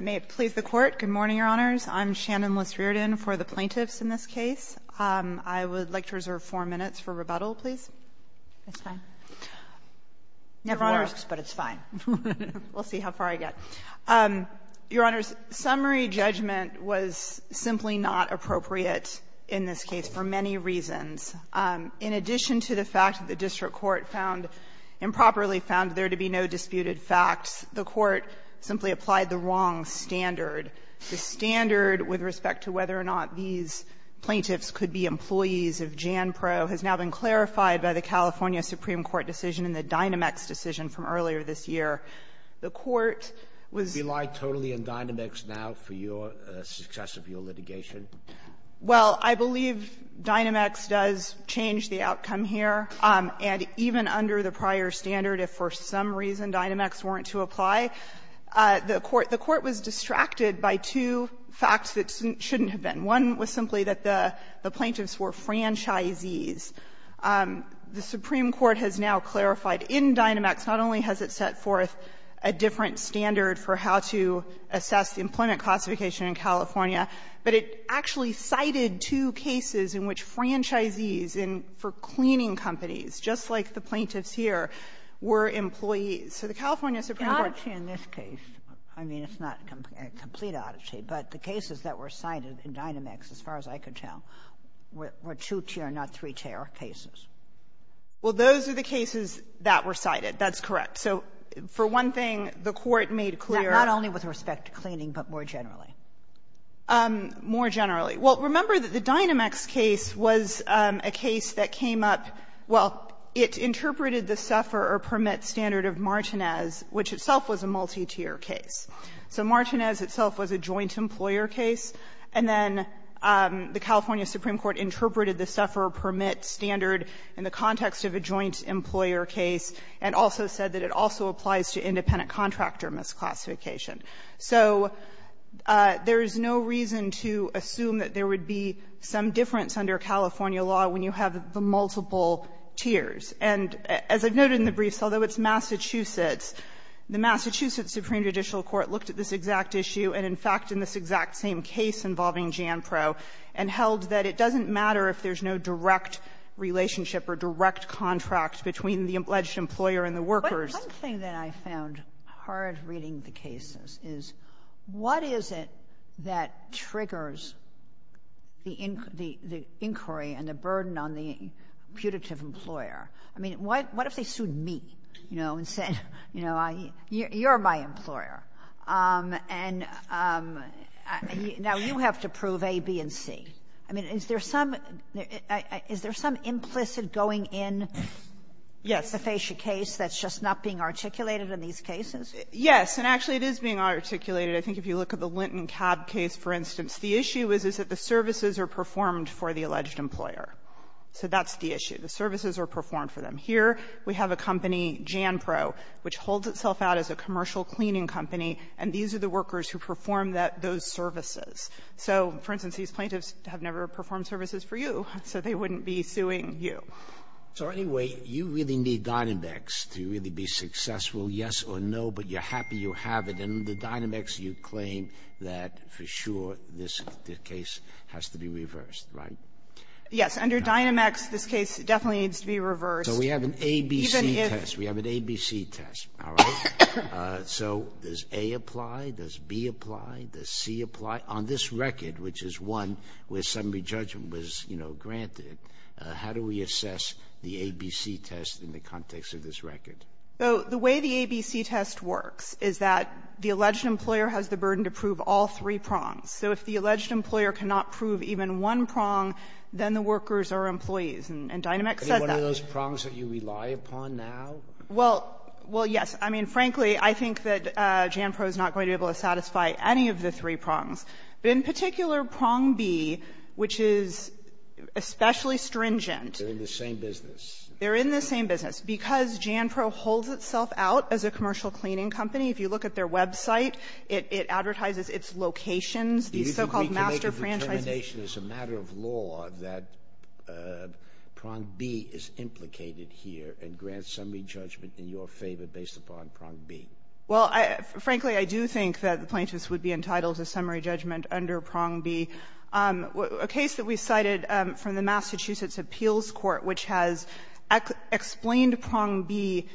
May it please the Court, good morning, Your Honors. I'm Shannon Liss-Riordan for the plaintiffs in this case. I would like to reserve four minutes for rebuttal, please. It's fine. Never works, but it's fine. We'll see how far I get. Your Honors, summary judgment was simply not appropriate in this case for many reasons. In addition to the fact that the district court found improperly found there to be no disputed facts, the Court simply applied the wrong standard. The standard with respect to whether or not these plaintiffs could be employees of Jan-Pro has now been clarified by the California Supreme Court decision and the Dynamex decision from earlier this year. The Court was ---- Sotomayor, did you rely totally on Dynamex now for your ---- success of your litigation? Well, I believe Dynamex does change the outcome here. And even under the prior standard, if for some reason Dynamex weren't to apply, the Court was distracted by two facts that shouldn't have been. One was simply that the plaintiffs were franchisees. The Supreme Court has now clarified in Dynamex not only has it set forth a different standard for how to assess the employment classification in California, but it actually cited two cases in which franchisees for cleaning companies, just like the plaintiffs here, were employees. So the California Supreme Court ---- It's an oddity in this case. I mean, it's not a complete oddity, but the cases that were cited in Dynamex, as far as I could tell, were two-tier, not three-tier cases. Well, those are the cases that were cited. That's correct. So for one thing, the Court made clear ---- Not only with respect to cleaning, but more generally. More generally. Well, remember that the Dynamex case was a case that came up ---- well, it interpreted the suffer or permit standard of Martinez, which itself was a multi-tier case. So Martinez itself was a joint employer case, and then the California Supreme Court interpreted the suffer or permit standard in the context of a joint employer case, and also said that it also applies to independent contractor misclassification. So there is no reason to assume that there would be some difference under California law when you have the multiple tiers. And as I've noted in the briefs, although it's Massachusetts, the Massachusetts Supreme Judicial Court looked at this exact issue, and in fact, in this exact same case involving JANPRO, and held that it doesn't matter if there's no direct relationship or direct contract between the alleged employer and the workers. Sotomayor, there's one thing that I found hard reading the cases, is what is it that triggers the inquiry and the burden on the putative employer? I mean, what if they sued me, you know, and said, you know, I ---- you're my employer, and now you have to prove A, B, and C. I mean, is there some ---- is there some implicit going in to face a case that's just not being articulated in these cases? Yes. And actually, it is being articulated. I think if you look at the Linton Cab case, for instance, the issue is, is that the services are performed for the alleged employer. So that's the issue. The services are performed for them. Here, we have a company, JANPRO, which holds itself out as a commercial cleaning company, and these are the workers who perform that ---- those services. So, for instance, these plaintiffs have never performed services for you, so they So, anyway, you really need Dynamex to really be successful, yes or no, but you're happy you have it. And under Dynamex, you claim that, for sure, this case has to be reversed, right? Yes. Under Dynamex, this case definitely needs to be reversed. So we have an A, B, C test. We have an A, B, C test, all right? So does A apply? Does B apply? Does C apply? On this record, which is one where summary judgment was, you know, granted, how do we assess the A, B, C test in the context of this record? So the way the A, B, C test works is that the alleged employer has the burden to prove all three prongs. So if the alleged employer cannot prove even one prong, then the workers are employees. And Dynamex says that. Any one of those prongs that you rely upon now? Well, yes. I mean, frankly, I think that JANPRO is not going to be able to satisfy any of the three prongs. But in particular, prong B, which is especially stringent ---- They're in the same business. They're in the same business. Because JANPRO holds itself out as a commercial cleaning company, if you look at their website, it advertises its locations, these so-called master franchises. Do you think we can make a determination as a matter of law that prong B is implicated here and grants summary judgment in your favor based upon prong B? Well, frankly, I do think that the plaintiffs would be entitled to summary judgment under prong B. A case that we cited from the Massachusetts Appeals Court, which has explained prong B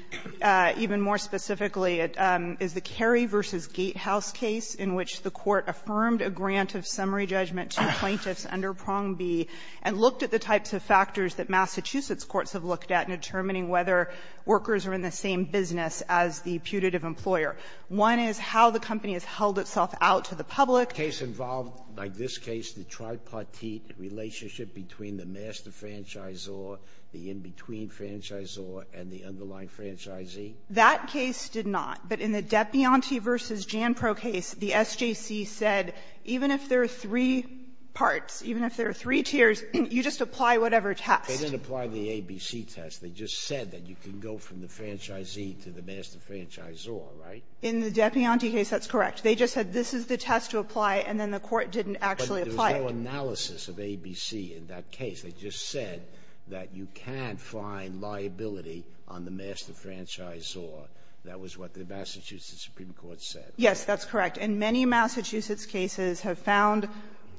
even more specifically, is the Kerry v. Gatehouse case in which the court affirmed a grant of summary judgment to plaintiffs under prong B and looked at the types of factors that Massachusetts courts have looked at in determining whether workers are in the same business as the putative employer. One is how the company has held itself out to the public. Did that case involve, like this case, the tripartite relationship between the master franchisor, the in-between franchisor, and the underlying franchisee? That case did not. But in the Depianti v. JANPRO case, the SJC said even if there are three parts, even if there are three tiers, you just apply whatever test. They didn't apply the ABC test. They just said that you can go from the franchisee to the master franchisor, right? In the Depianti case, that's correct. They just said this is the test to apply, and then the court didn't actually Sotomayor, there was no analysis of ABC in that case. They just said that you can't find liability on the master franchisor. That was what the Massachusetts Supreme Court said. Yes, that's correct. And many Massachusetts cases have found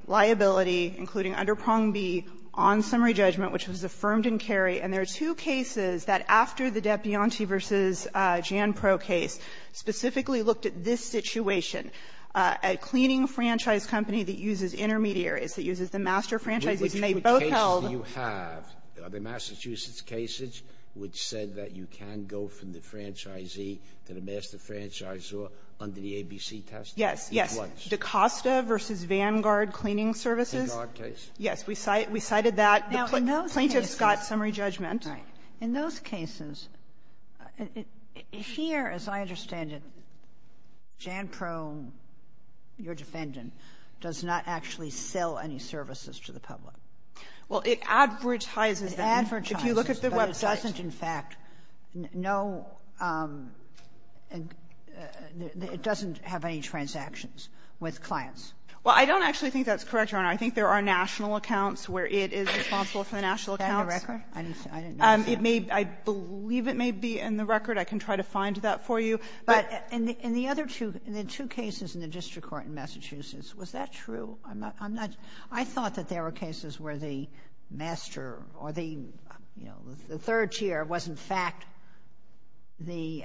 liability, including under prong B, on summary judgment, which was affirmed in Kerry. And there are two cases that, after the Depianti v. JANPRO case, specifically looked at this situation, a cleaning franchise company that uses intermediaries, that uses the master franchisee, and they both held the ---- Sotomayor, which cases do you have? Are there Massachusetts cases which said that you can go from the franchisee to the master franchisor under the ABC test? It was. Yes, yes. Dacosta v. Vanguard Cleaning Services. In our case? Yes. We cited that. Now, in those cases ---- Plaintiff's got summary judgment. Right. In those cases, here, as I understand it, JANPRO, your defendant, does not actually sell any services to the public. Well, it advertises that. It advertises. If you look at the website. But it doesn't, in fact, no ---- it doesn't have any transactions with clients. Well, I don't actually think that's correct, Your Honor. I think there are national accounts where it is responsible for the national accounts. Is that in your record? I didn't see it. I believe it may be in the record. I can try to find that for you. But in the other two cases in the district court in Massachusetts, was that true? I'm not ---- I thought that there were cases where the master or the, you know, the third tier was, in fact, the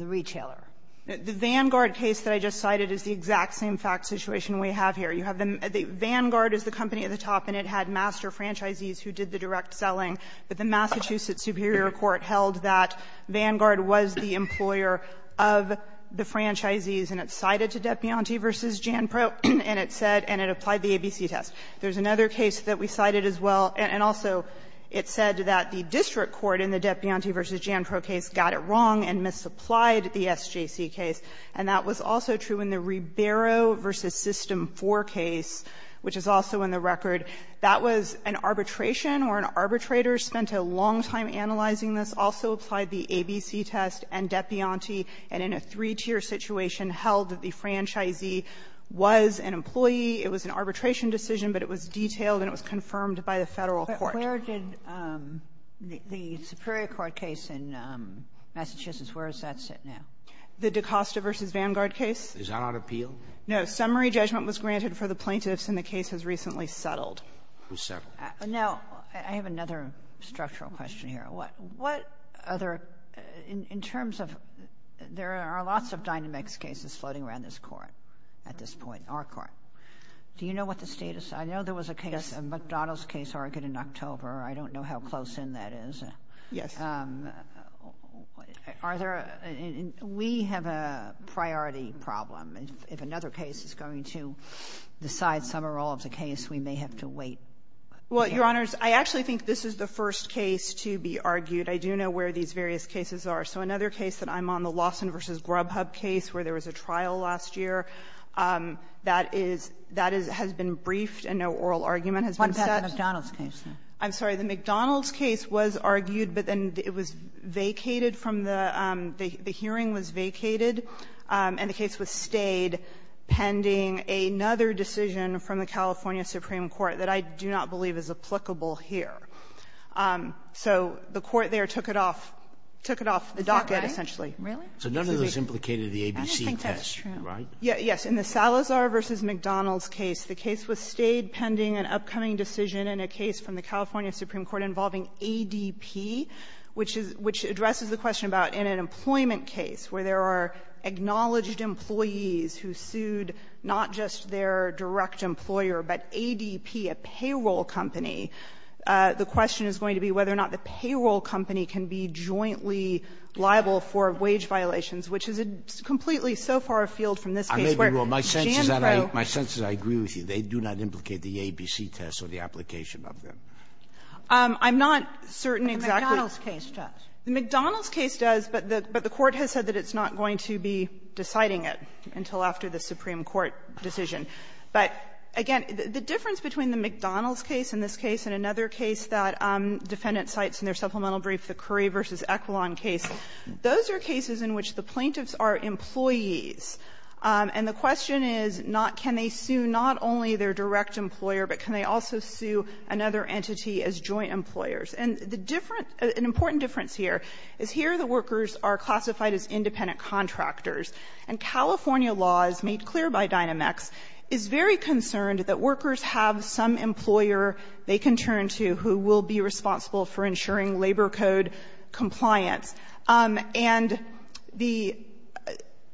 retailer. The Vanguard case that I just cited is the exact same fact situation we have here. You have the ---- Vanguard is the company at the top, and it had master franchisees who did the direct selling. But the Massachusetts Superior Court held that Vanguard was the employer of the franchisees, and it cited to Depianti v. JANPRO, and it said, and it applied the ABC test. There's another case that we cited as well, and also it said that the district court in the Depianti v. JANPRO case got it wrong and misapplied the SJC case, and that was also true in the Ribeiro v. System IV case, which is also in the record. That was an arbitration, or an arbitrator spent a long time analyzing this, also applied the ABC test and Depianti, and in a three-tier situation held that the franchisee was an employee. It was an arbitration decision, but it was detailed and it was confirmed by the Federal Court. Kagan, where did the Superior Court case in Massachusetts, where does that sit now? The DaCosta v. Vanguard case? Is that on appeal? No. Summary judgment was granted for the plaintiffs, and the case has recently settled. It was settled. Now, I have another structural question here. What other — in terms of — there are lots of Dynamex cases floating around this Court at this point, our Court. Do you know what the status — I know there was a case, a McDonald's case, argued in October. I don't know how close in that is. Yes. Are there — we have a priority problem. If another case is going to decide some or all of the case, we may have to wait. Well, Your Honors, I actually think this is the first case to be argued. I do know where these various cases are. So another case that I'm on, the Lawson v. Grubhub case, where there was a trial last year, that is — that has been briefed and no oral argument has been set. What about the McDonald's case? I'm sorry. The McDonald's case was argued, but then it was vacated from the — the hearing was vacated, and the case was stayed pending another decision from the California Supreme Court that I do not believe is applicable here. So the Court there took it off — took it off the docket, essentially. Really? So none of those implicated the ABC test, right? I don't think that's true. Yes. In the Salazar v. McDonald's case, the case was stayed pending an upcoming decision in a case from the California Supreme Court involving ADP, which is — which addresses the question about in an employment case where there are acknowledged employees who sued not just their direct employer, but ADP, a payroll company, the question is going to be whether or not the payroll company can be jointly liable for wage violations, which is a — it's completely so far afield from this case where Jambro — I may be wrong. My sense is that I — my sense is I agree with you. They do not implicate the ABC test or the application of them. I'm not certain exactly — The McDonald's case does. The McDonald's case does, but the Court has said that it's not going to be deciding it until after the Supreme Court decision. But, again, the difference between the McDonald's case in this case and another case that defendant cites in their supplemental brief, the Curry v. Equilon case, those are cases in which the plaintiffs are employees. And the question is not — can they sue not only their direct employer, but can they also sue another entity as joint employers? And the difference — an important difference here is here the workers are classified as independent contractors, and California law, as made clear by Dynamex, is very concerned that workers have some employer they can turn to who will be responsible for ensuring labor code compliance. And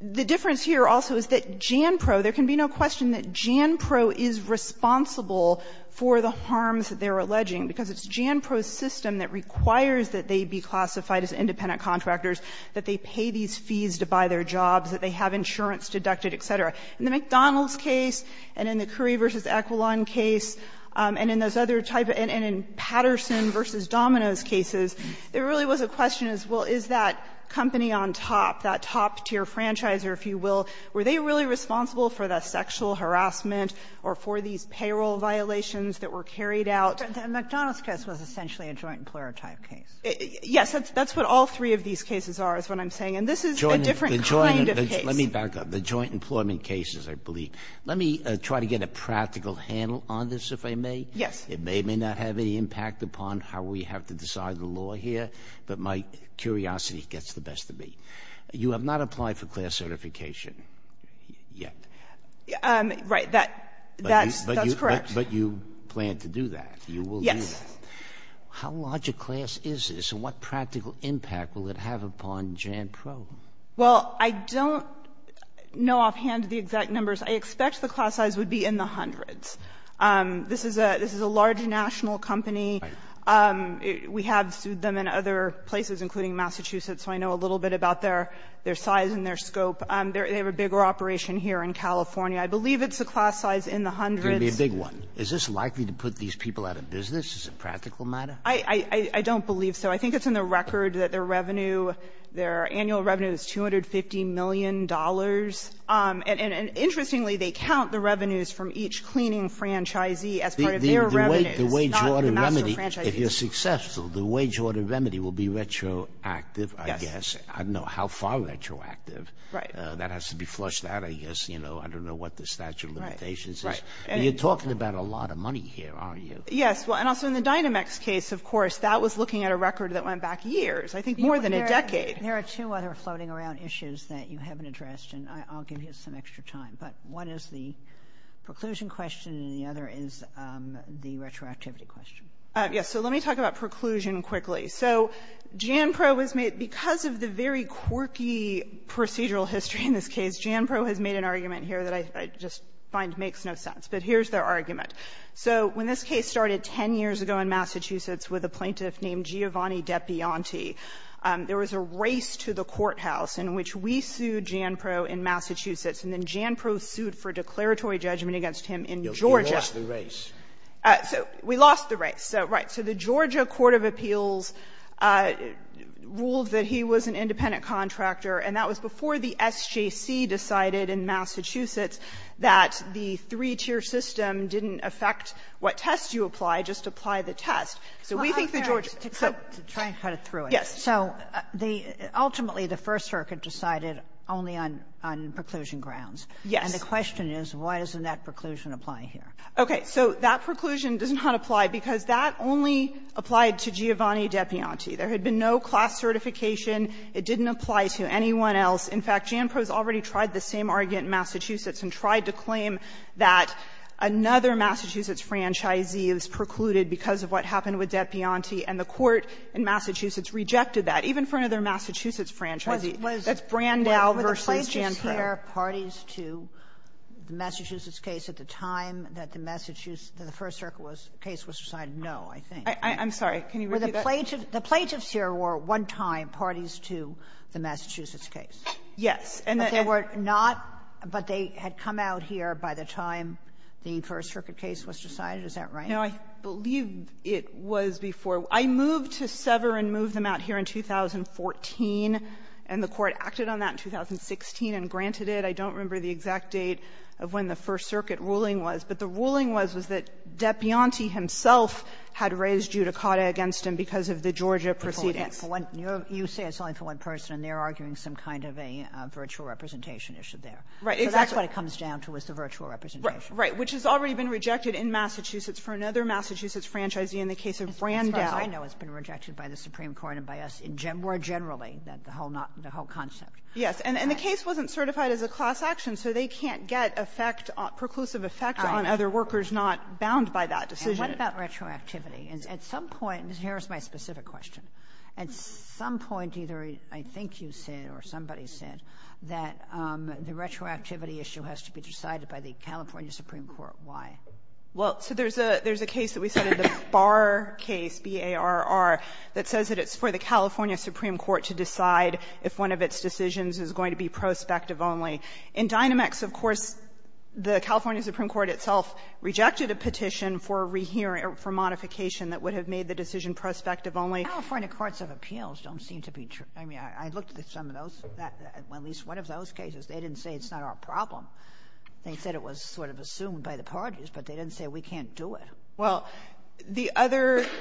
the difference here also is that JANPRO, there can be no question that JANPRO is responsible for the harms that they're alleging, because it's JANPRO's system that requires that they be classified as independent contractors, that they pay these fees to buy their jobs, that they have insurance deducted, et cetera. In the McDonald's case and in the Curry v. Equilon case and in those other type — and in Patterson v. Domino's cases, there really was a question as, well, is that company on top, that top-tier franchisor, if you will, were they really responsible for the sexual harassment or for these payroll violations that were carried out? Harrington-Domingo, Jr.: The McDonald's case was essentially a joint-employer type case. O'Connor, Jr.: Yes, that's what all three of these cases are, is what I'm saying. And this is a different kind of case. Sotomayor, Jr.: Let me back up. The joint-employment cases, I believe. Let me try to get a practical handle on this, if I may. O'Connor, Jr.: Yes. Sotomayor, Jr.: It may or may not have any impact upon how we have to decide the law here, but my curiosity gets the best of me. You have not applied for class certification yet. O'Connor, Jr.: Right. That's correct. Sotomayor, Jr.: But you plan to do that. You will do that. O'Connor, Jr.: Yes. Sotomayor, Jr.: How large a class is this? And what practical impact will it have upon JANPRO? O'Connor, Jr.: Well, I don't know offhand the exact numbers. I expect the class size would be in the hundreds. This is a large national company. We have them in other places, including Massachusetts, so I know a little bit about their size and their scope. They have a bigger operation here in California. I believe it's a class size in the hundreds. It's going to be a big one. Is this likely to put these people out of business as a practical matter? I don't believe so. I think it's in the record that their revenue, their annual revenue is $250 million. And interestingly, they count the revenues from each cleaning franchisee as part of their revenues, not the master franchisees. Sotomayor, Jr.: If you're successful, the wage order remedy will be retroactive, I guess. I don't know how far retroactive. That has to be flushed out, I guess. I don't know what the statute of limitations is. You're talking about a lot of money here, aren't you? O'Connor, Jr.: Yes. And also in the Dynamex case, of course, that was looking at a record that went back years, I think more than a decade. There are two other floating around issues that you haven't addressed, and I'll give you some extra time, but one is the preclusion question and the other is the retroactivity question. Yes. So let me talk about preclusion quickly. So Janpro was made — because of the very quirky procedural history in this case, Janpro has made an argument here that I just find makes no sense. But here's their argument. So when this case started 10 years ago in Massachusetts with a plaintiff named Giovanni Depianti, there was a race to the courthouse in which we sued Janpro in Massachusetts, and then Janpro sued for declaratory judgment against him in Georgia. Scalia, you lost the race. O'Connor, Jr.: So we lost the race, so, right. So the Georgia court of appeals ruled that he was an independent contractor, and that was before the SJC decided in Massachusetts that the three-tier system didn't affect what test you apply, just apply the test. So we think the Georgia — Kagan, to try and cut it through. O'Connor, Jr.: Yes. Kagan, Jr.: So the — ultimately, the First Circuit decided only on preclusion grounds. O'Connor, Jr.: Yes. Kagan, Jr.: And the question is, why doesn't that preclusion apply here? O'Connor, Jr.: Okay. So that preclusion does not apply, because that only applied to Giovanni Depianti. There had been no class certification. It didn't apply to anyone else. In fact, Janpro has already tried the same argument in Massachusetts and tried to claim that another Massachusetts franchisee was precluded because of what happened with the court in Massachusetts rejected that, even for another Massachusetts franchisee. That's Brandeis versus Janpro. Kagan, Jr.: Were the plaintiffs here parties to the Massachusetts case at the time that the Massachusetts — that the First Circuit was — case was decided? No, I think. O'Connor, Jr.: I'm sorry. Can you repeat that? Kagan, Jr.: Were the — the plaintiffs here were, at one time, parties to the Massachusetts case? O'Connor, Jr.: Yes. Kagan, Jr.: But they were not — but they had come out here by the time the First Circuit case was decided. Is that right? O'Connor, Jr.: No, I believe it was before. I moved to sever and move them out here in 2014, and the court acted on that in 2016 and granted it. I don't remember the exact date of when the First Circuit ruling was, but the ruling was, was that Depianti himself had raised judicata against him because of the Georgia proceedings. Kagan, Jr.: You say it's only for one person, and they're arguing some kind of a virtual representation issue there. O'Connor, Jr.: Right. Exactly. Kagan, Jr.: So that's what it comes down to, is the virtual representation. O'Connor, Jr.: Right. Which has already been rejected in Massachusetts for another Massachusetts franchisee in the case of Brandeis. Kagan, Jr.: Which I know has been rejected by the Supreme Court and by us more generally, the whole not — the whole concept. O'Connor, Jr.: Yes. And the case wasn't certified as a class action, so they can't get effect — preclusive effect on other workers not bound by that decision. Kagan, Jr.: And what about retroactivity? At some point — here's my specific question. At some point, either I think you said or somebody said that the retroactivity issue has to be decided by the California Supreme Court. Why? O'Connor, Jr.: Well, so there's a case that we cited, the Barr case, B-A-R-R, that says that it's for the California Supreme Court to decide if one of its decisions is going to be prospective only. In Dynamex, of course, the California Supreme Court itself rejected a petition for a rehearing — for modification that would have made the decision prospective only. Kagan, Jr.: California courts of appeals don't seem to be — I mean, I looked at some of those, at least one of those cases. They didn't say it's not our problem. They said it was sort of assumed by the parties, but they didn't say we can't do it. O'Connor, Jr.: Well, the other —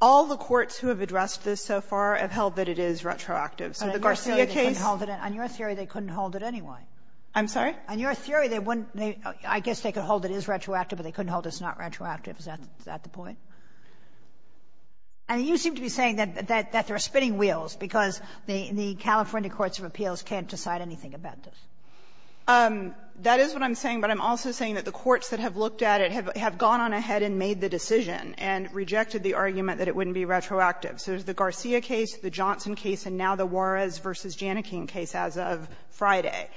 all the courts who have addressed this so far have held that it is retroactive. So the Garcia case — Kagan, Jr.: On your theory, they couldn't hold it anyway. O'Connor, Jr.: I'm sorry? Kagan, Jr.: On your theory, they wouldn't — I guess they could hold it is retroactive, but they couldn't hold it's not retroactive. Is that the point? I mean, you seem to be saying that there are spinning wheels because the California courts of appeals can't decide anything about this. O'Connor, Jr.: That is what I'm saying, but I'm also saying that the courts that have looked at it have gone on ahead and made the decision and rejected the argument that it wouldn't be retroactive. So there's the Garcia case, the Johnson case, and now the Juarez v. Janikin case as of Friday.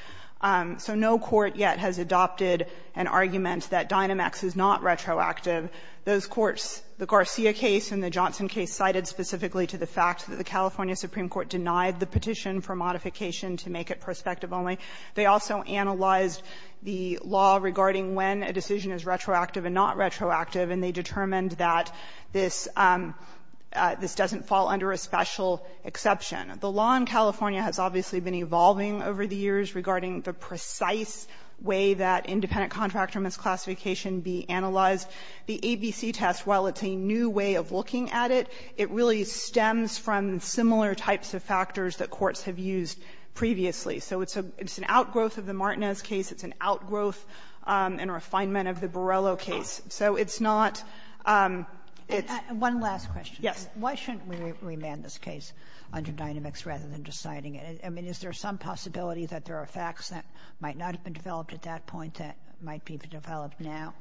So no court yet has adopted an argument that Dynamex is not retroactive. Those courts, the Garcia case and the Johnson case, cited specifically to the fact that the California Supreme Court denied the petition for modification to make it prospective only. They also analyzed the law regarding when a decision is retroactive and not retroactive, and they determined that this doesn't fall under a special exception. The law in California has obviously been evolving over the years regarding the precise way that independent contractor misclassification be analyzed. The ABC test, while it's a new way of looking at it, it really stems from similar types of factors that courts have used previously. So it's an outgrowth of the Martinez case. It's an outgrowth and refinement of the Borrello case. So it's not the case. Kagan, one last question. Yes. Why shouldn't we remand this case under Dynamex rather than deciding it? I mean, is there some possibility that there are facts that might not have been developed at that point that might be developed now?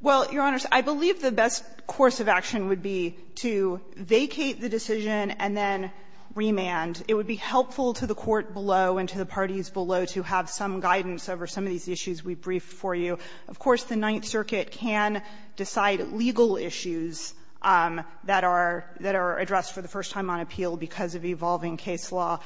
Well, Your Honors, I believe the best course of action would be to vacate the decision and then remand. It would be helpful to the court below and to the parties below to have some guidance over some of these issues we briefed for you. Of course, the Ninth Circuit can decide legal issues that are addressed for the first time on appeal because of evolving case law.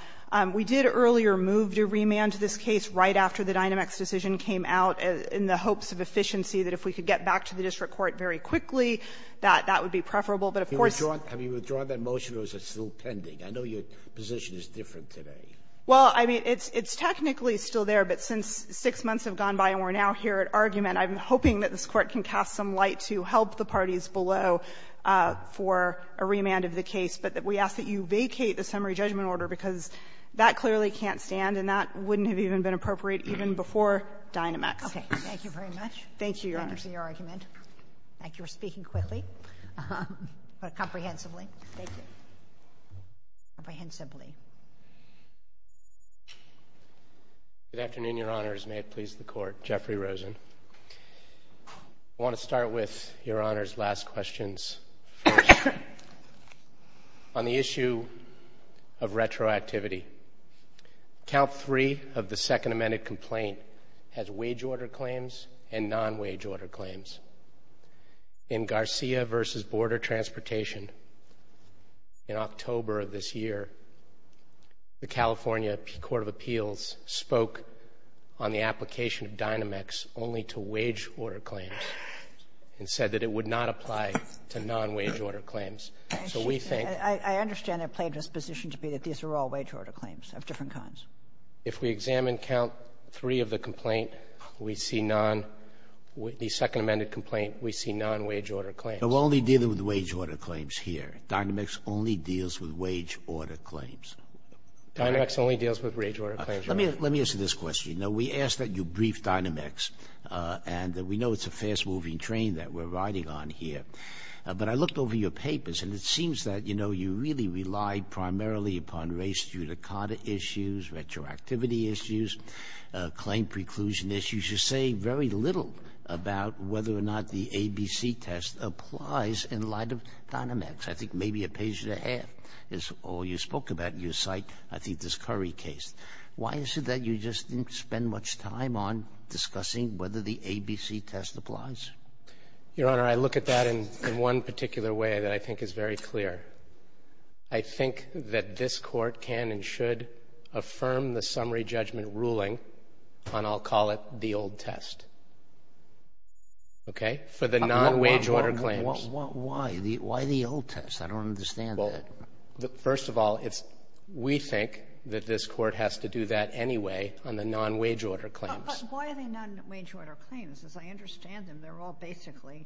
We did earlier move to remand this case right after the Dynamex decision came out in the hopes of efficiency, that if we could get back to the district court very quickly, that that would be preferable. But of course you're not going to withdraw that motion because it's still pending. I know your position is different today. Well, I mean, it's technically still there, but since six months have gone by and we're now here at argument, I'm hoping that this Court can cast some light to help the parties below for a remand of the case, but that we ask that you vacate the summary judgment order because that clearly can't stand and that wouldn't have even been appropriate even before Dynamex. Okay. Thank you very much. Thank you, Your Honors. Thank you for your argument. Thank you for speaking quickly, but comprehensively. Thank you. Comprehensively. Good afternoon, Your Honors. May it please the Court. Jeffrey Rosen. I want to start with Your Honors' last questions. On the issue of retroactivity, count three of the second amended complaint has wage order claims and non-wage order claims. In Garcia v. Border Transportation, in October of this year, the California Court of Appeals spoke on the application of Dynamex only to wage order claims and said that it would not apply to non-wage order claims. So we think — I understand that Plaintiff's position to be that these are all wage order claims of different kinds. If we examine count three of the complaint, we see non — the second amended complaint, we see non-wage order claims. So we're only dealing with wage order claims here. Dynamex only deals with wage order claims. Dynamex only deals with wage order claims, Your Honor. Let me ask you this question. You know, we asked that you brief Dynamex, and we know it's a fast-moving train that we're riding on here. But I looked over your papers, and it seems that, you know, you really rely primarily upon race judicata issues, retroactivity issues, claim preclusion issues. You say very little about whether or not the ABC test applies in light of Dynamex. I think maybe a page and a half is all you spoke about in your site. I think this Curry case. Why is it that you just didn't spend much time on discussing whether the ABC test applies? Your Honor, I look at that in one particular way that I think is very clear. I think that this Court can and should affirm the summary judgment ruling on, I'll call it, the old test, okay, for the non-wage order claims. Why? Why the old test? I don't understand that. First of all, we think that this Court has to do that anyway on the non-wage order claims. But why are they non-wage order claims? As I understand them, they're all basically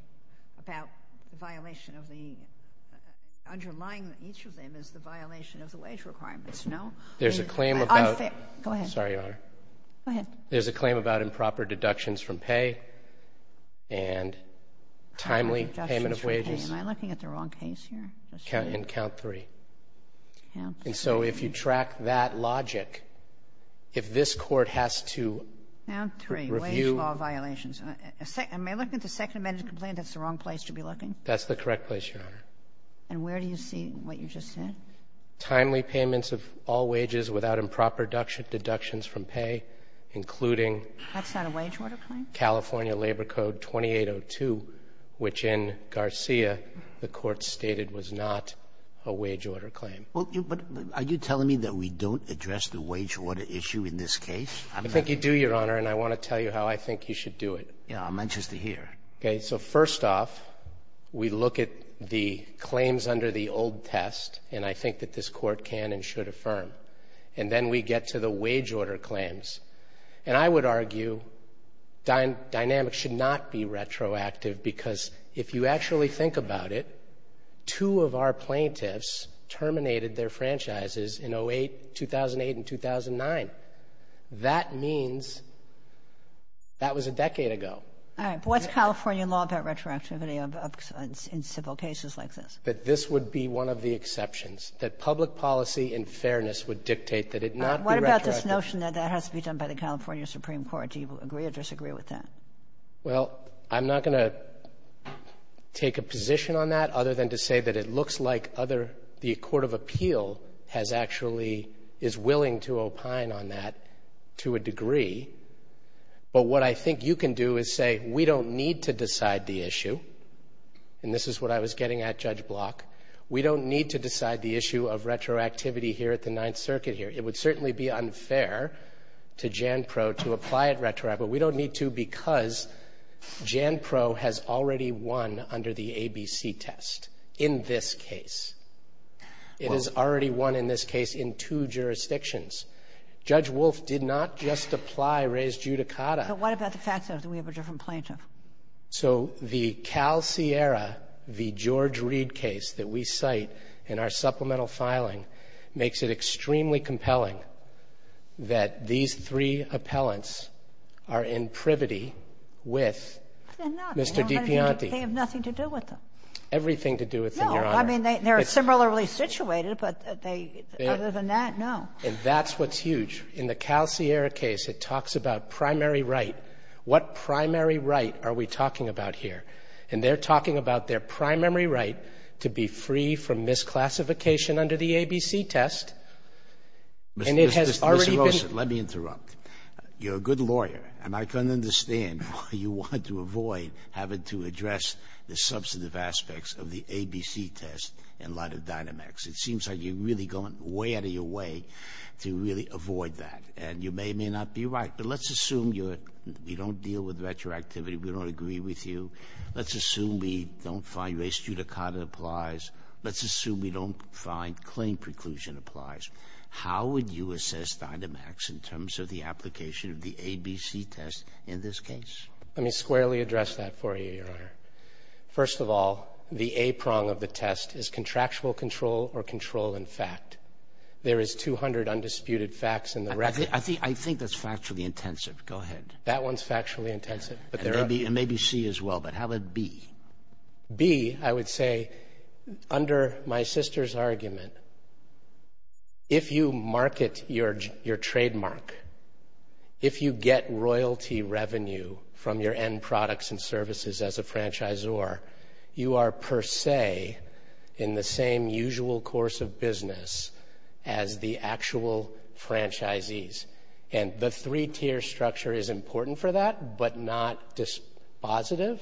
about the violation of the—underlying each of them is the violation of the wage requirements, no? There's a claim about improper deductions from pay and timely payment of wages. Am I looking at the wrong case here? In count three. And so if you track that logic, if this Court has to review— Am I looking at the Second Amendment complaint? That's the wrong place to be looking? That's the correct place, Your Honor. And where do you see what you just said? Timely payments of all wages without improper deductions from pay, including— That's not a wage order claim? California Labor Code 2802, which in Garcia the Court stated was not a wage order claim. Well, but are you telling me that we don't address the wage order issue in this case? I think you do, Your Honor, and I want to tell you how I think you should do it. I'm anxious to hear. Okay. So first off, we look at the claims under the old test, and I think that this Court can and should affirm. And then we get to the wage order claims. And I would argue dynamics should not be retroactive, because if you actually think about it, two of our plaintiffs terminated their franchises in 2008 and 2009. That means that was a decade ago. All right. But what's California law about retroactivity in civil cases like this? That this would be one of the exceptions, that public policy and fairness would dictate that it not be retroactive. What about this notion that that has to be done by the California Supreme Court? Do you agree or disagree with that? Well, I'm not going to take a position on that other than to say that it looks like the Court of Appeal actually is willing to opine on that to a degree. But what I think you can do is say, we don't need to decide the issue. And this is what I was getting at, Judge Block. We don't need to decide the issue of retroactivity here at the Ninth Circuit here. It would certainly be unfair to Jan Proe to apply it retroactive, but we don't need to because Jan Proe has already won under the ABC test in this case. It has already won in this case in two jurisdictions. Judge Wolf did not just apply res judicata. But what about the fact that we have a different plaintiff? So the Cal Sierra v. George Reed case that we cite in our supplemental filing makes it extremely compelling that these three appellants are in privity with Mr. DiPiante. They have nothing to do with them. Everything to do with them, Your Honor. I mean, they're similarly situated, but they, other than that, no. And that's what's huge. In the Cal Sierra case, it talks about primary right. What primary right are we talking about here? And they're talking about their primary right to be free from misclassification under the ABC test, and it has already been Mr. Rosen, let me interrupt. You're a good lawyer, and I can understand why you want to avoid having to address the substantive aspects of the ABC test in light of Dynamax. It seems like you're really going way out of your way to really avoid that. And you may or may not be right. But let's assume you don't deal with retroactivity. We don't agree with you. Let's assume we don't find res judicata applies. Let's assume we don't find claim preclusion applies. How would you assess Dynamax in terms of the application of the ABC test in this case? Let me squarely address that for you, Your Honor. First of all, the A prong of the test is contractual control or control in fact. There is 200 undisputed facts in the record. I think that's factually intensive. Go ahead. That one's factually intensive. But there may be C as well, but how about B? B, I would say, under my sister's argument, if you market your trademark, if you get royalty revenue from your end products and services as a franchisor, you are per se in the same usual course of business as the actual franchisees. And the three-tier structure is important for that, but not dispositive.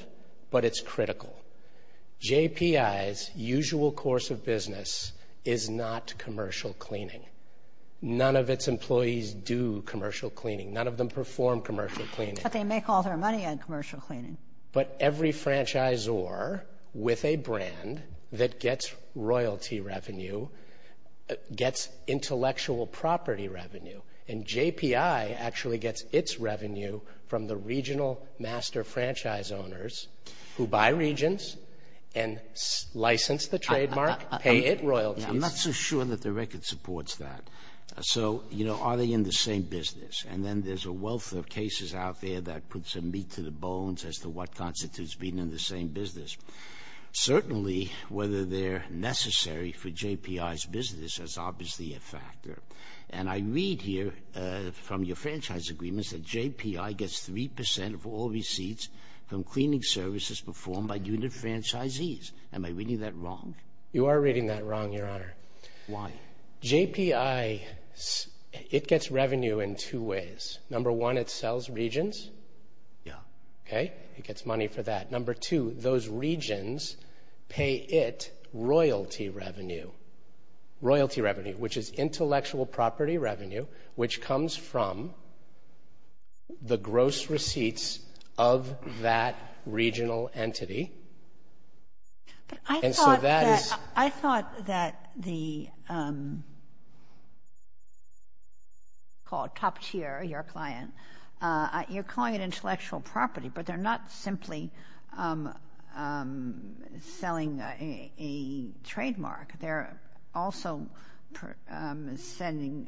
But it's critical. JPI's usual course of business is not commercial cleaning. None of its employees do commercial cleaning. None of them perform commercial cleaning. But they make all their money on commercial cleaning. But every franchisor with a brand that gets royalty revenue gets intellectual property revenue. And JPI actually gets its revenue from the regional master franchise owners who buy regions and license the trademark, pay it royalties. I'm not so sure that the record supports that. So, you know, are they in the same business? And then there's a wealth of cases out there that put some meat to the bones as to what constitutes being in the same business. Certainly, whether they're necessary for JPI's business is obviously a factor. And I read here from your franchise agreements that JPI gets 3% of all receipts from cleaning services performed by unit franchisees. Am I reading that wrong? You are reading that wrong, Your Honor. Why? JPI, it gets revenue in two ways. Number one, it sells regions. Yeah. Okay. It gets money for that. Number two, those regions pay it royalty revenue. Royalty revenue, which is intellectual property revenue, which comes from the gross receipts of that regional entity. But I thought that the, called top tier, your client, you're calling it intellectual property, but they're not simply selling a trademark. They're also sending,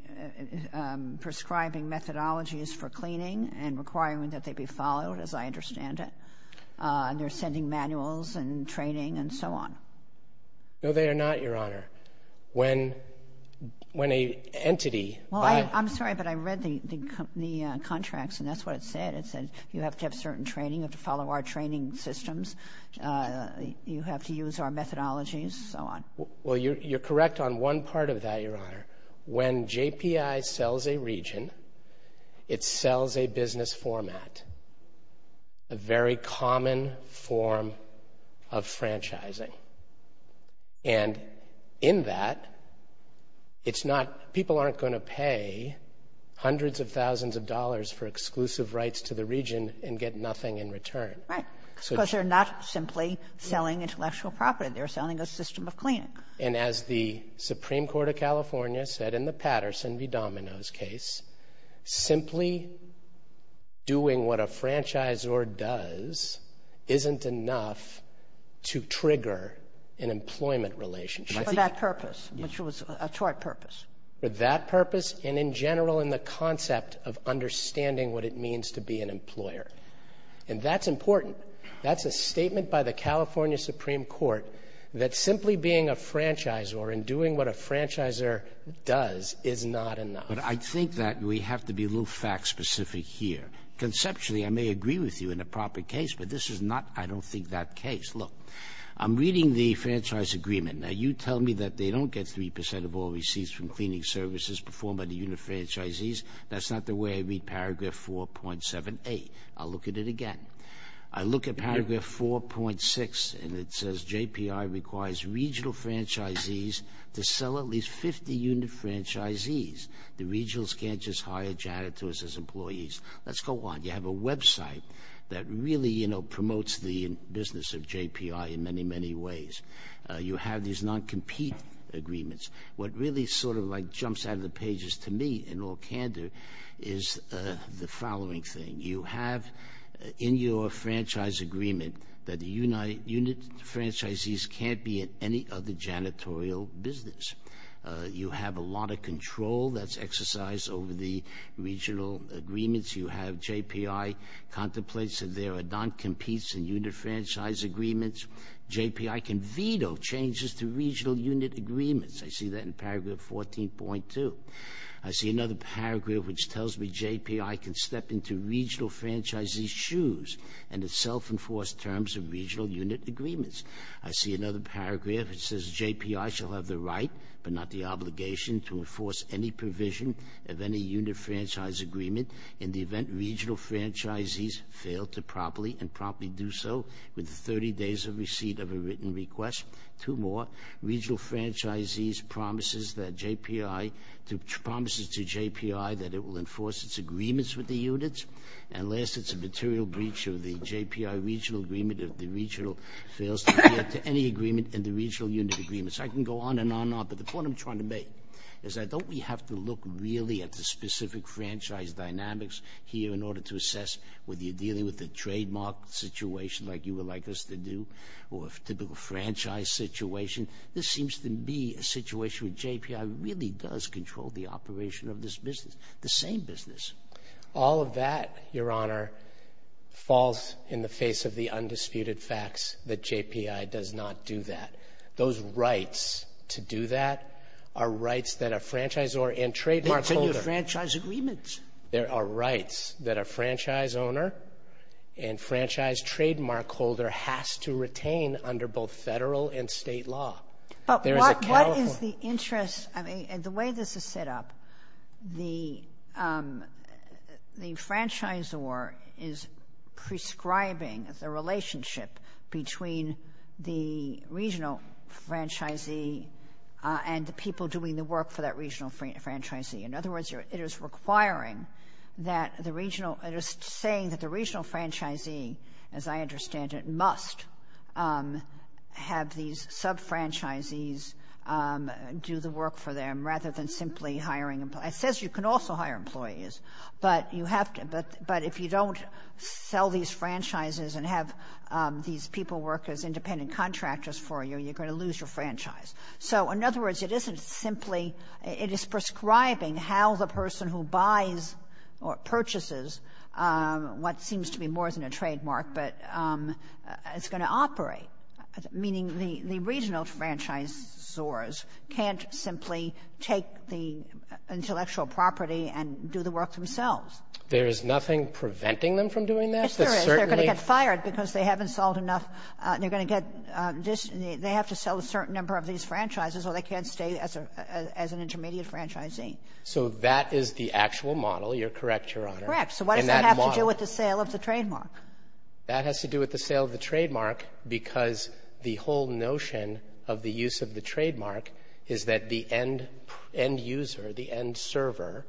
prescribing methodologies for cleaning and requiring that they be followed, as I understand it. And they're sending manuals and training and so on. No, they are not, Your Honor. When a entity- Well, I'm sorry, but I read the contracts and that's what it said. It said you have to have certain training, you have to follow our training systems, you have to use our methodologies, so on. Well, you're correct on one part of that, Your Honor. When JPI sells a region, it sells a business format. A very common form of franchising. And in that, it's not, people aren't going to pay hundreds of thousands of dollars for exclusive rights to the region and get nothing in return. Right, because they're not simply selling intellectual property. They're selling a system of cleaning. And as the Supreme Court of California said in the Patterson v. Domino's case, simply doing what a franchisor does isn't enough to trigger an employment relationship. For that purpose, which was a tort purpose. For that purpose and in general in the concept of understanding what it means to be an employer. And that's important. That's a statement by the California Supreme Court that simply being a franchisor and doing what a franchisor does is not enough. But I think that we have to be a little fact specific here. Conceptually, I may agree with you in a proper case. But this is not, I don't think, that case. Look, I'm reading the franchise agreement. Now, you tell me that they don't get 3% of all receipts from cleaning services performed by the unit franchisees. That's not the way I read paragraph 4.78. I'll look at it again. I look at paragraph 4.6 and it says JPI requires regional franchisees to sell at least 50 unit franchisees. The regionals can't just hire janitors as employees. Let's go on. You have a website that really, you know, promotes the business of JPI in many, many ways. You have these non-compete agreements. What really sort of like jumps out of the pages to me in all candor is the following thing. You have in your franchise agreement that the unit franchisees can't be in any other janitorial business. You have a lot of control that's exercised over the regional agreements. You have JPI contemplates that there are non-competes in unit franchise agreements. JPI can veto changes to regional unit agreements. I see that in paragraph 14.2. I see another paragraph which tells me JPI can step into regional franchisees' shoes and it's self-enforced terms of regional unit agreements. I see another paragraph. It says JPI shall have the right, but not the obligation, to enforce any provision of any unit franchise agreement in the event regional franchisees fail to properly and promptly do so with 30 days of receipt of a written request. Two more. Regional franchisees promises to JPI that it will enforce its agreements with the units. And last, it's a material breach of the JPI regional agreement if the regional fails to adhere to any agreement in the regional unit agreements. I can go on and on and on, but the point I'm trying to make is that don't we have to look really at the specific franchise dynamics here in order to assess whether you're dealing with a trademark situation like you would like us to do or a typical franchise situation? This seems to be a situation where JPI really does control the operation of this business, the same business. All of that, Your Honor, falls in the face of the undisputed facts that JPI does not do that. Those rights to do that are rights that a franchisor and trademark holder ---- They continue to franchise agreements. There are rights that a franchise owner and franchise trademark holder has to retain under both Federal and State law. But what is the interest? I mean, the way this is set up, the franchisor is prescribing the relationship between the regional franchisee and the people doing the work for that regional franchisee. In other words, it is requiring that the regional ---- it is saying that the regional franchisee, as I understand it, must have these sub-franchisees do the work for them rather than simply hiring employees. It says you can also hire employees, but you have to ---- but if you don't sell these franchises and have these people work as independent contractors for you, you're going to lose your franchise. So, in other words, it isn't simply ---- it is prescribing how the person who buys or purchases what seems to be more than a trademark, but it's going to operate. Meaning the regional franchisors can't simply take the intellectual property and do the work themselves. There is nothing preventing them from doing that? Yes, there is. They're going to get fired because they haven't sold enough. They're going to get ---- they have to sell a certain number of these franchises or they can't stay as an intermediate franchisee. So that is the actual model. You're correct, Your Honor. Correct. So what does that have to do with the sale of the trademark? That has to do with the sale of the trademark because the whole notion of the use of the trademark is that the end user, the end server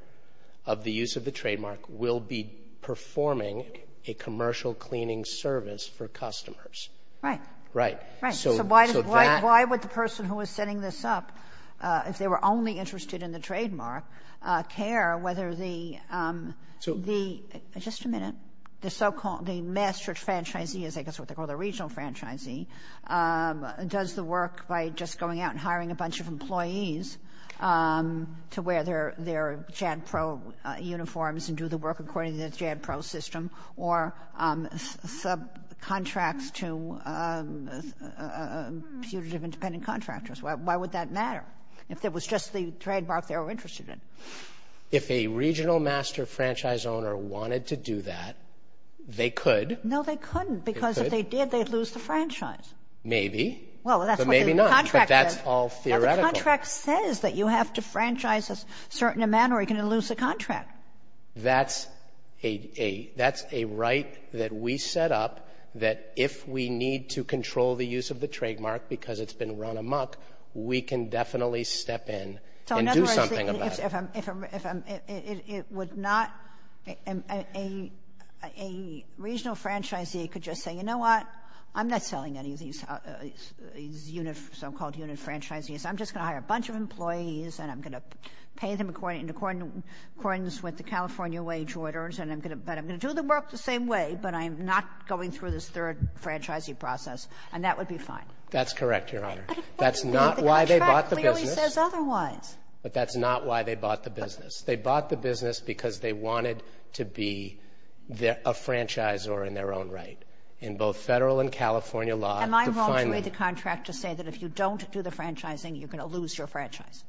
of the use of the trademark will be performing a commercial cleaning service for customers. Right. Right. Right. So why would the person who was setting this up, if they were only interested in the trademark, care whether the so-called master franchisee, I guess that's what they call the regional franchisee, does the work by just going out and hiring a bunch of employees to wear their JADPRO uniforms and do the work according to the JADPRO system, or subcontracts to putative independent contractors? Why would that matter? If it was just the trademark they were interested in. If a regional master franchise owner wanted to do that, they could. No, they couldn't. Because if they did, they'd lose the franchise. Maybe. Well, that's what the contract says. That's all theoretical. The contract says that you have to franchise a certain amount or you're going to lose the contract. That's a right that we set up that if we need to control the use of the trademark because it's been run amok, we can definitely step in and do something about it. So, in other words, if I'm, if I'm, if I'm, it, it would not, a, a, a regional franchisee could just say, you know what, I'm not selling any of these unit, so-called unit franchisees. I'm just going to hire a bunch of employees and I'm going to pay them according, in accordance with the California wage orders. And I'm going to, but I'm going to do the work the same way, but I'm not going through this third franchisee process and that would be fine. That's correct, Your Honor. That's not why they bought the business. The contract clearly says otherwise. But that's not why they bought the business. They bought the business because they wanted to be a franchisor in their own right. In both federal and California law, the final- Am I wrong to read the contract to say that if you don't do the franchising, you're going to lose your franchise?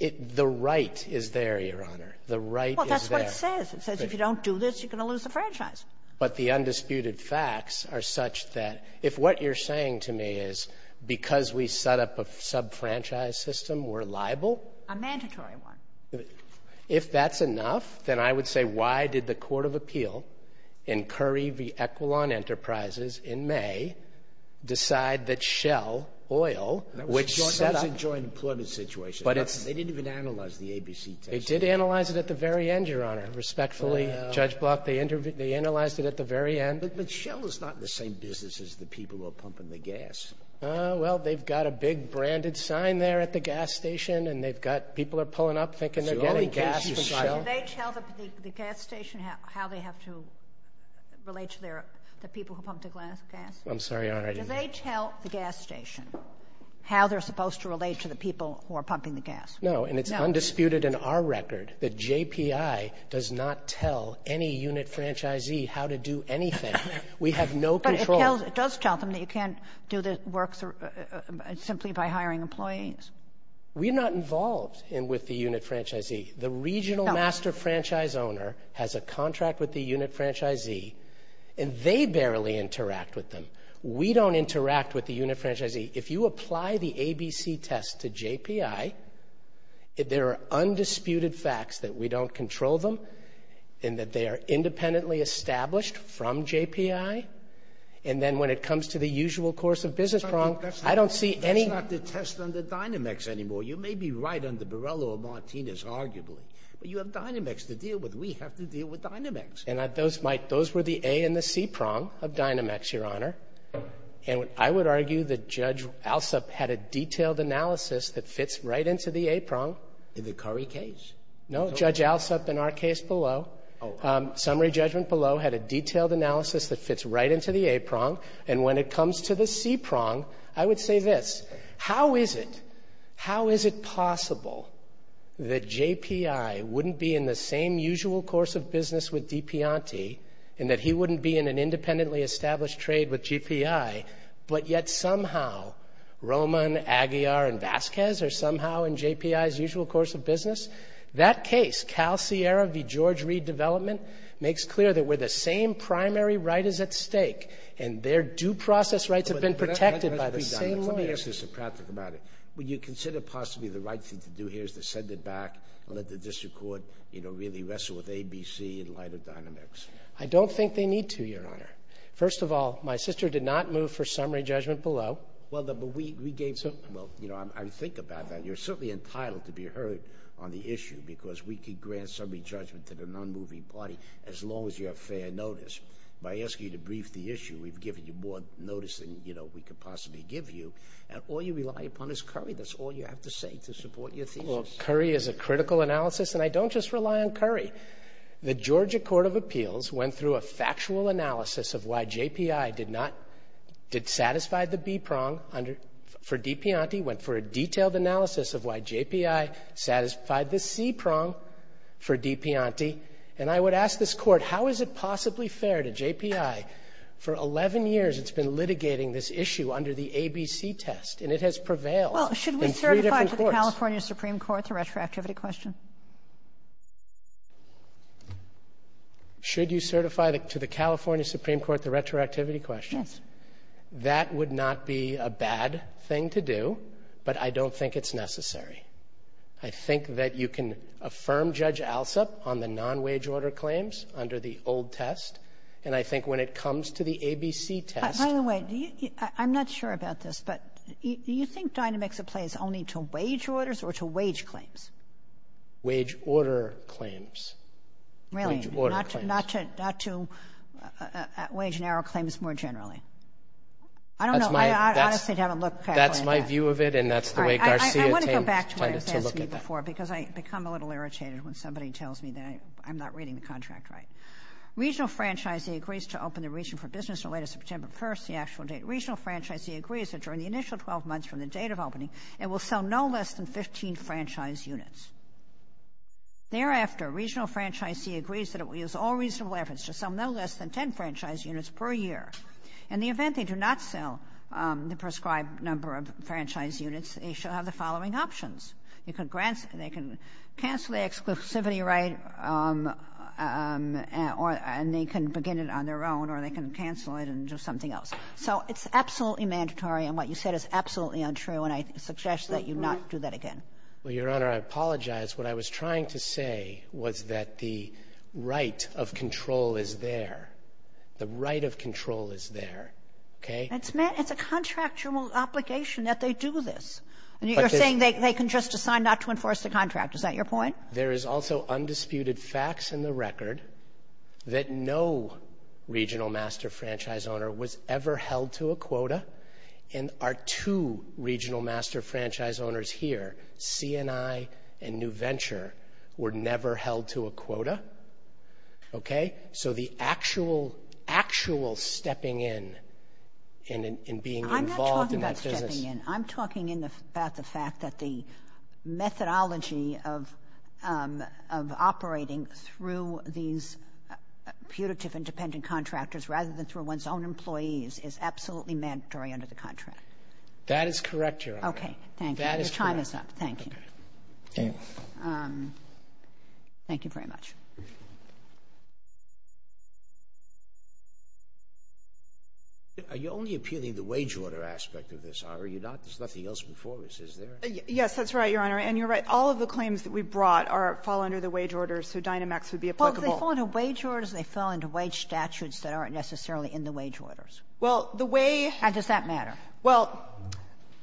The right is there, Your Honor. The right is there. Well, that's what it says. It says if you don't do this, you're going to lose the franchise. But the undisputed facts are such that if what you're saying to me is because we set up a sub-franchise system, we're liable? A mandatory one. If that's enough, then I would say why did the court of appeal in Curry v. Equilon Enterprises in May decide that Shell Oil, which set up- That was a joint employment situation. But it's- They didn't even analyze the ABC test. They did analyze it at the very end, Your Honor. Respectfully, Judge Block, they analyzed it at the very end. But Shell is not in the same business as the people who are pumping the gas. Well, they've got a big branded sign there at the gas station, and they've got- People are pulling up thinking they're getting gas from Shell. Did they tell the gas station how they have to relate to the people who pump the gas? I'm sorry, Your Honor. Did they tell the gas station how they're supposed to relate to the people who are pumping the gas? No. And it's undisputed in our record that JPI does not tell any unit franchisee how to do anything. We have no control. But it does tell them that you can't do the work simply by hiring employees? We're not involved with the unit franchisee. The regional master franchise owner has a contract with the unit franchisee, and they barely interact with them. We don't interact with the unit franchisee. If you apply the ABC test to JPI, there are undisputed facts that we don't control them and that they are independently established from JPI. And then when it comes to the usual course of business, I don't see any- That's not the test under Dynamex anymore. You may be right under Borrello or Martinez, arguably, but you have Dynamex to deal with. We have to deal with Dynamex. And those were the A and the C prong of Dynamex, Your Honor. And I would argue that Judge Alsup had a detailed analysis that fits right into the A prong. In the Curry case? No, Judge Alsup in our case below, summary judgment below, had a detailed analysis that fits right into the A prong. And when it comes to the C prong, I would say this. How is it — how is it possible that JPI wouldn't be in the same usual course of business with Dipianti and that he wouldn't be in an independently established trade with GPI, but yet somehow Roman, Aguiar, and Vasquez are somehow in JPI's usual course of business? That case, Cal Sierra v. George Reed Development, makes clear that where the same primary right is at stake and their due process rights have been protected by the same lawyers- Let me ask you something practical about it. Would you consider possibly the right thing to do here is to send it back and let the district court, you know, really wrestle with A, B, C in light of Dynamex? I don't think they need to, Your Honor. First of all, my sister did not move for summary judgment below. Well, but we gave — well, you know, I think about that. You're certainly entitled to be heard on the issue because we could grant summary judgment to the non-moving party as long as you have fair notice. By asking you to brief the issue, we've given you more notice than, you know, we could possibly give you. And all you rely upon is Curry. That's all you have to say to support your thesis. Well, Curry is a critical analysis, and I don't just rely on Curry. The Georgia Court of Appeals went through a factual analysis of why JPI did not — did satisfy the B prong under — for Dipianti, went for a detailed analysis of why JPI satisfied the C prong for Dipianti, and I would ask this Court, how is it possibly fair to JPI? For 11 years, it's been litigating this issue under the ABC test, and it has prevailed in three different courts. Well, should we certify to the California Supreme Court the retroactivity question? Should you certify to the California Supreme Court the retroactivity question? Yes. That would not be a bad thing to do, but I don't think it's necessary. I think that you can affirm Judge Alsop on the non-wage order claims under the old test, and I think when it comes to the ABC test — By the way, do you — I'm not sure about this, but do you think Dynamics of Play is only to wage orders or to wage claims? Wage order claims. Wage order claims. Not to wage and error claims more generally. I don't know. That's my — I honestly haven't looked at it. That's my view of it, and that's the way Garcia — I want to go back to what he says before, because I become a little irritated when somebody tells me that I'm not reading the contract right. Regional franchisee agrees to open the region for business on the latest of September 1st, the actual date. During the initial 12 months from the date of opening, it will sell no less than 15 franchise units. Thereafter, regional franchisee agrees that it will use all reasonable efforts to sell no less than 10 franchise units per year. In the event they do not sell the prescribed number of franchise units, they shall have the following options. They can cancel the exclusivity right, and they can begin it on their own, or they can cancel it and do something else. So it's absolutely mandatory, and what you said is absolutely untrue, and I suggest that you not do that again. Well, Your Honor, I apologize. What I was trying to say was that the right of control is there. The right of control is there, okay? It's a contractual obligation that they do this. And you're saying they can just decide not to enforce the contract. Is that your point? There is also undisputed facts in the record that no regional master franchise owner was ever held to a quota, and our two regional master franchise owners here, C&I and New Venture, were never held to a quota, okay? So the actual, actual stepping in and being involved in that business— I'm not talking about stepping in. I'm talking about the fact that the methodology of operating through these putative independent contractors rather than through one's own employees is absolutely mandatory under the contract. That is correct, Your Honor. Okay, thank you. Your time is up. Thank you. Thank you very much. Are you only appealing the wage order aspect of this, or are you not? There's nothing else before this, is there? Yes, that's right, Your Honor. And you're right. All of the claims that we brought fall under the wage order, so Dynamex would be applicable. Well, if they fall under wage orders, they fall under wage statutes that aren't necessarily in the wage orders. Well, the way— How does that matter? Well,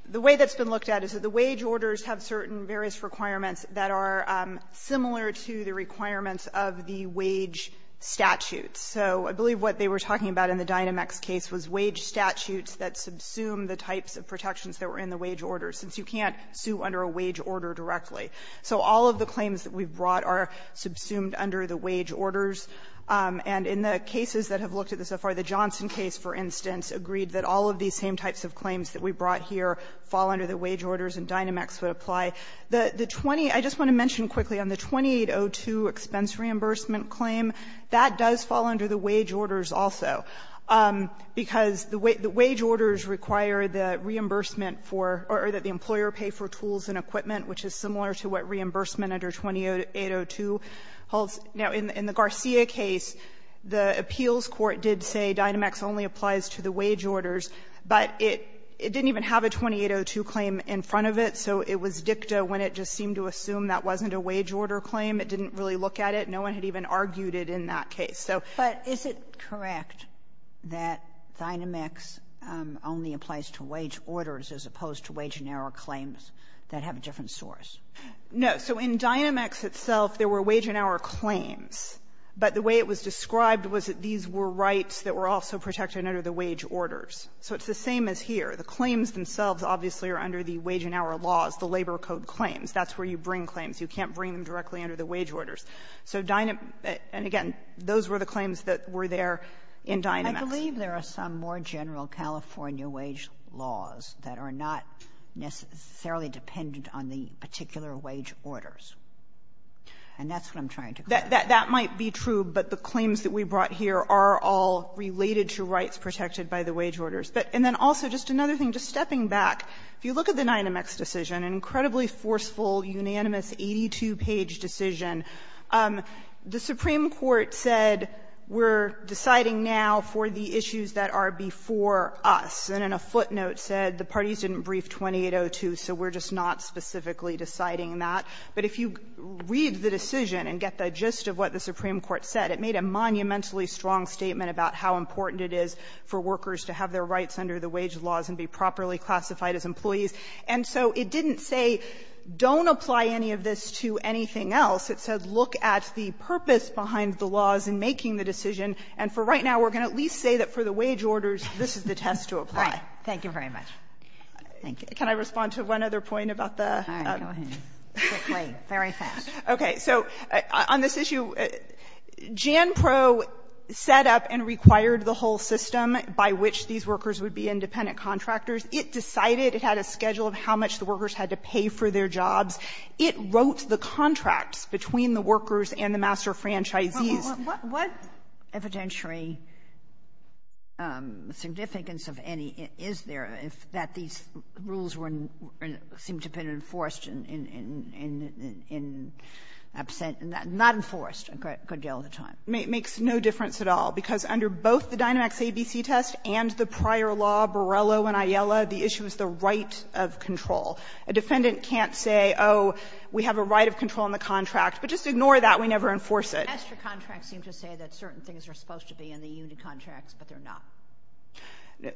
the way that's been looked at is that the wage orders have certain various requirements that are similar to the requirements of the wage statutes. So I believe what they were talking about in the Dynamex case was wage statutes that subsume the types of protections that were in the wage order, since you can't sue under a wage order directly. So all of the claims that we brought are subsumed under the wage orders. And in the cases that have looked at this so far, the Johnson case, for instance, agreed that all of these same types of claims that we brought here fall under the wage orders, and Dynamex would apply. The 20 — I just want to mention quickly on the 2802 expense reimbursement claim, that does fall under the wage orders also, because the wage order would require the reimbursement for — or that the employer pay for tools and equipment, which is similar to what reimbursement under 2802 holds. Now, in the Garcia case, the appeals court did say Dynamex only applies to the wage orders, but it didn't even have a 2802 claim in front of it, so it was dicta when it just seemed to assume that wasn't a wage order claim. It didn't really look at it. No one had even argued it in that case. So — Kagan. But is it correct that Dynamex only applies to wage orders as opposed to wage-an-hour claims that have a different source? No. So in Dynamex itself, there were wage-an-hour claims, but the way it was described was that these were rights that were also protected under the wage orders. So it's the same as here. The claims themselves obviously are under the wage-an-hour laws, the labor code claims. That's where you bring claims. You can't bring them directly under the wage orders. So Dynamex — and again, those were the claims that were there in Dynamex. I believe there are some more general California wage laws that are not necessarily dependent on the particular wage orders. And that's what I'm trying to get at. That might be true, but the claims that we brought here are all related to rights protected by the wage orders. And then also, just another thing, just stepping back, if you look at the Dynamex decision, an incredibly forceful, unanimous, 82-page decision, the Supreme Court said, we're deciding now for the issues that are before us. And in a footnote said, the parties didn't brief 2802, so we're just not specifically deciding that. But if you read the decision and get the gist of what the Supreme Court said, it made a monumentally strong statement about how important it is for workers to have their rights protected. So it didn't say, don't apply any of this to anything else. It said, look at the purpose behind the laws in making the decision. And for right now, we're going to at least say that for the wage orders, this is the test to apply. Kagan. Thank you very much. Thank you. Can I respond to one other point about the other? All right. Go ahead. Quickly. Very fast. Okay. So on this issue, JANPRO set up and required the whole system by which these workers would be independent contractors. It decided. It had a schedule of how much the workers had to pay for their jobs. It wrote the contracts between the workers and the master franchisees. What evidentiary significance of any is there if that these rules were seem to have been enforced in absent and not enforced a good deal of the time? It makes no difference at all, because under both the Dynamax ABC test and the prior law, Borrello and Aiella, the issue is the right of control. A defendant can't say, oh, we have a right of control in the contract. But just ignore that. We never enforce it. Master contracts seem to say that certain things are supposed to be in the union contracts, but they're not.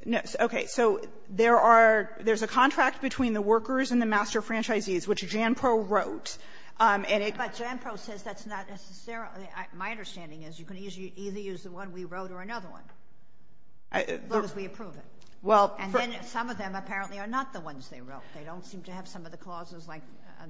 No. Okay. So there are — there's a contract between the workers and the master franchisees, which JANPRO wrote, and it — But JANPRO says that's not necessarily — my understanding is you can either use the one we wrote or another one, as long as we approve it. And then some of them apparently are not the ones they wrote. They don't seem to have some of the clauses, like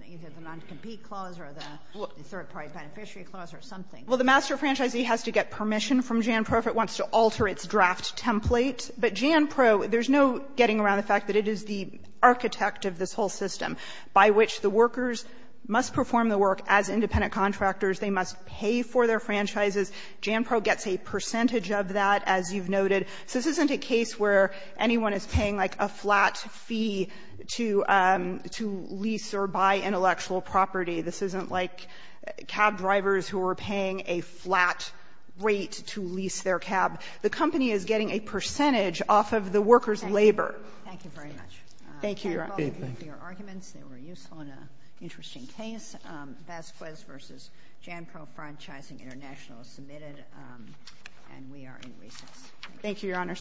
either the non-compete clause or the third-party beneficiary clause or something. Well, the master franchisee has to get permission from JANPRO if it wants to alter its draft template, but JANPRO, there's no getting around the fact that it is the architect of this whole system, by which the workers must perform the work as independent contractors. They must pay for their franchises. JANPRO gets a percentage of that, as you've noted. So this isn't a case where anyone is paying, like, a flat fee to — to lease or buy intellectual property. This isn't like cab drivers who are paying a flat rate to lease their cab. The company is getting a percentage off of the workers' labor. Thank you. Thank you very much. Thank you, Your Honor. Thank you. Thank all of you for your arguments. They were useful and an interesting case. Vasquez v. JANPRO Franchising International is submitted, and we are in recess. Thank you, Your Honor.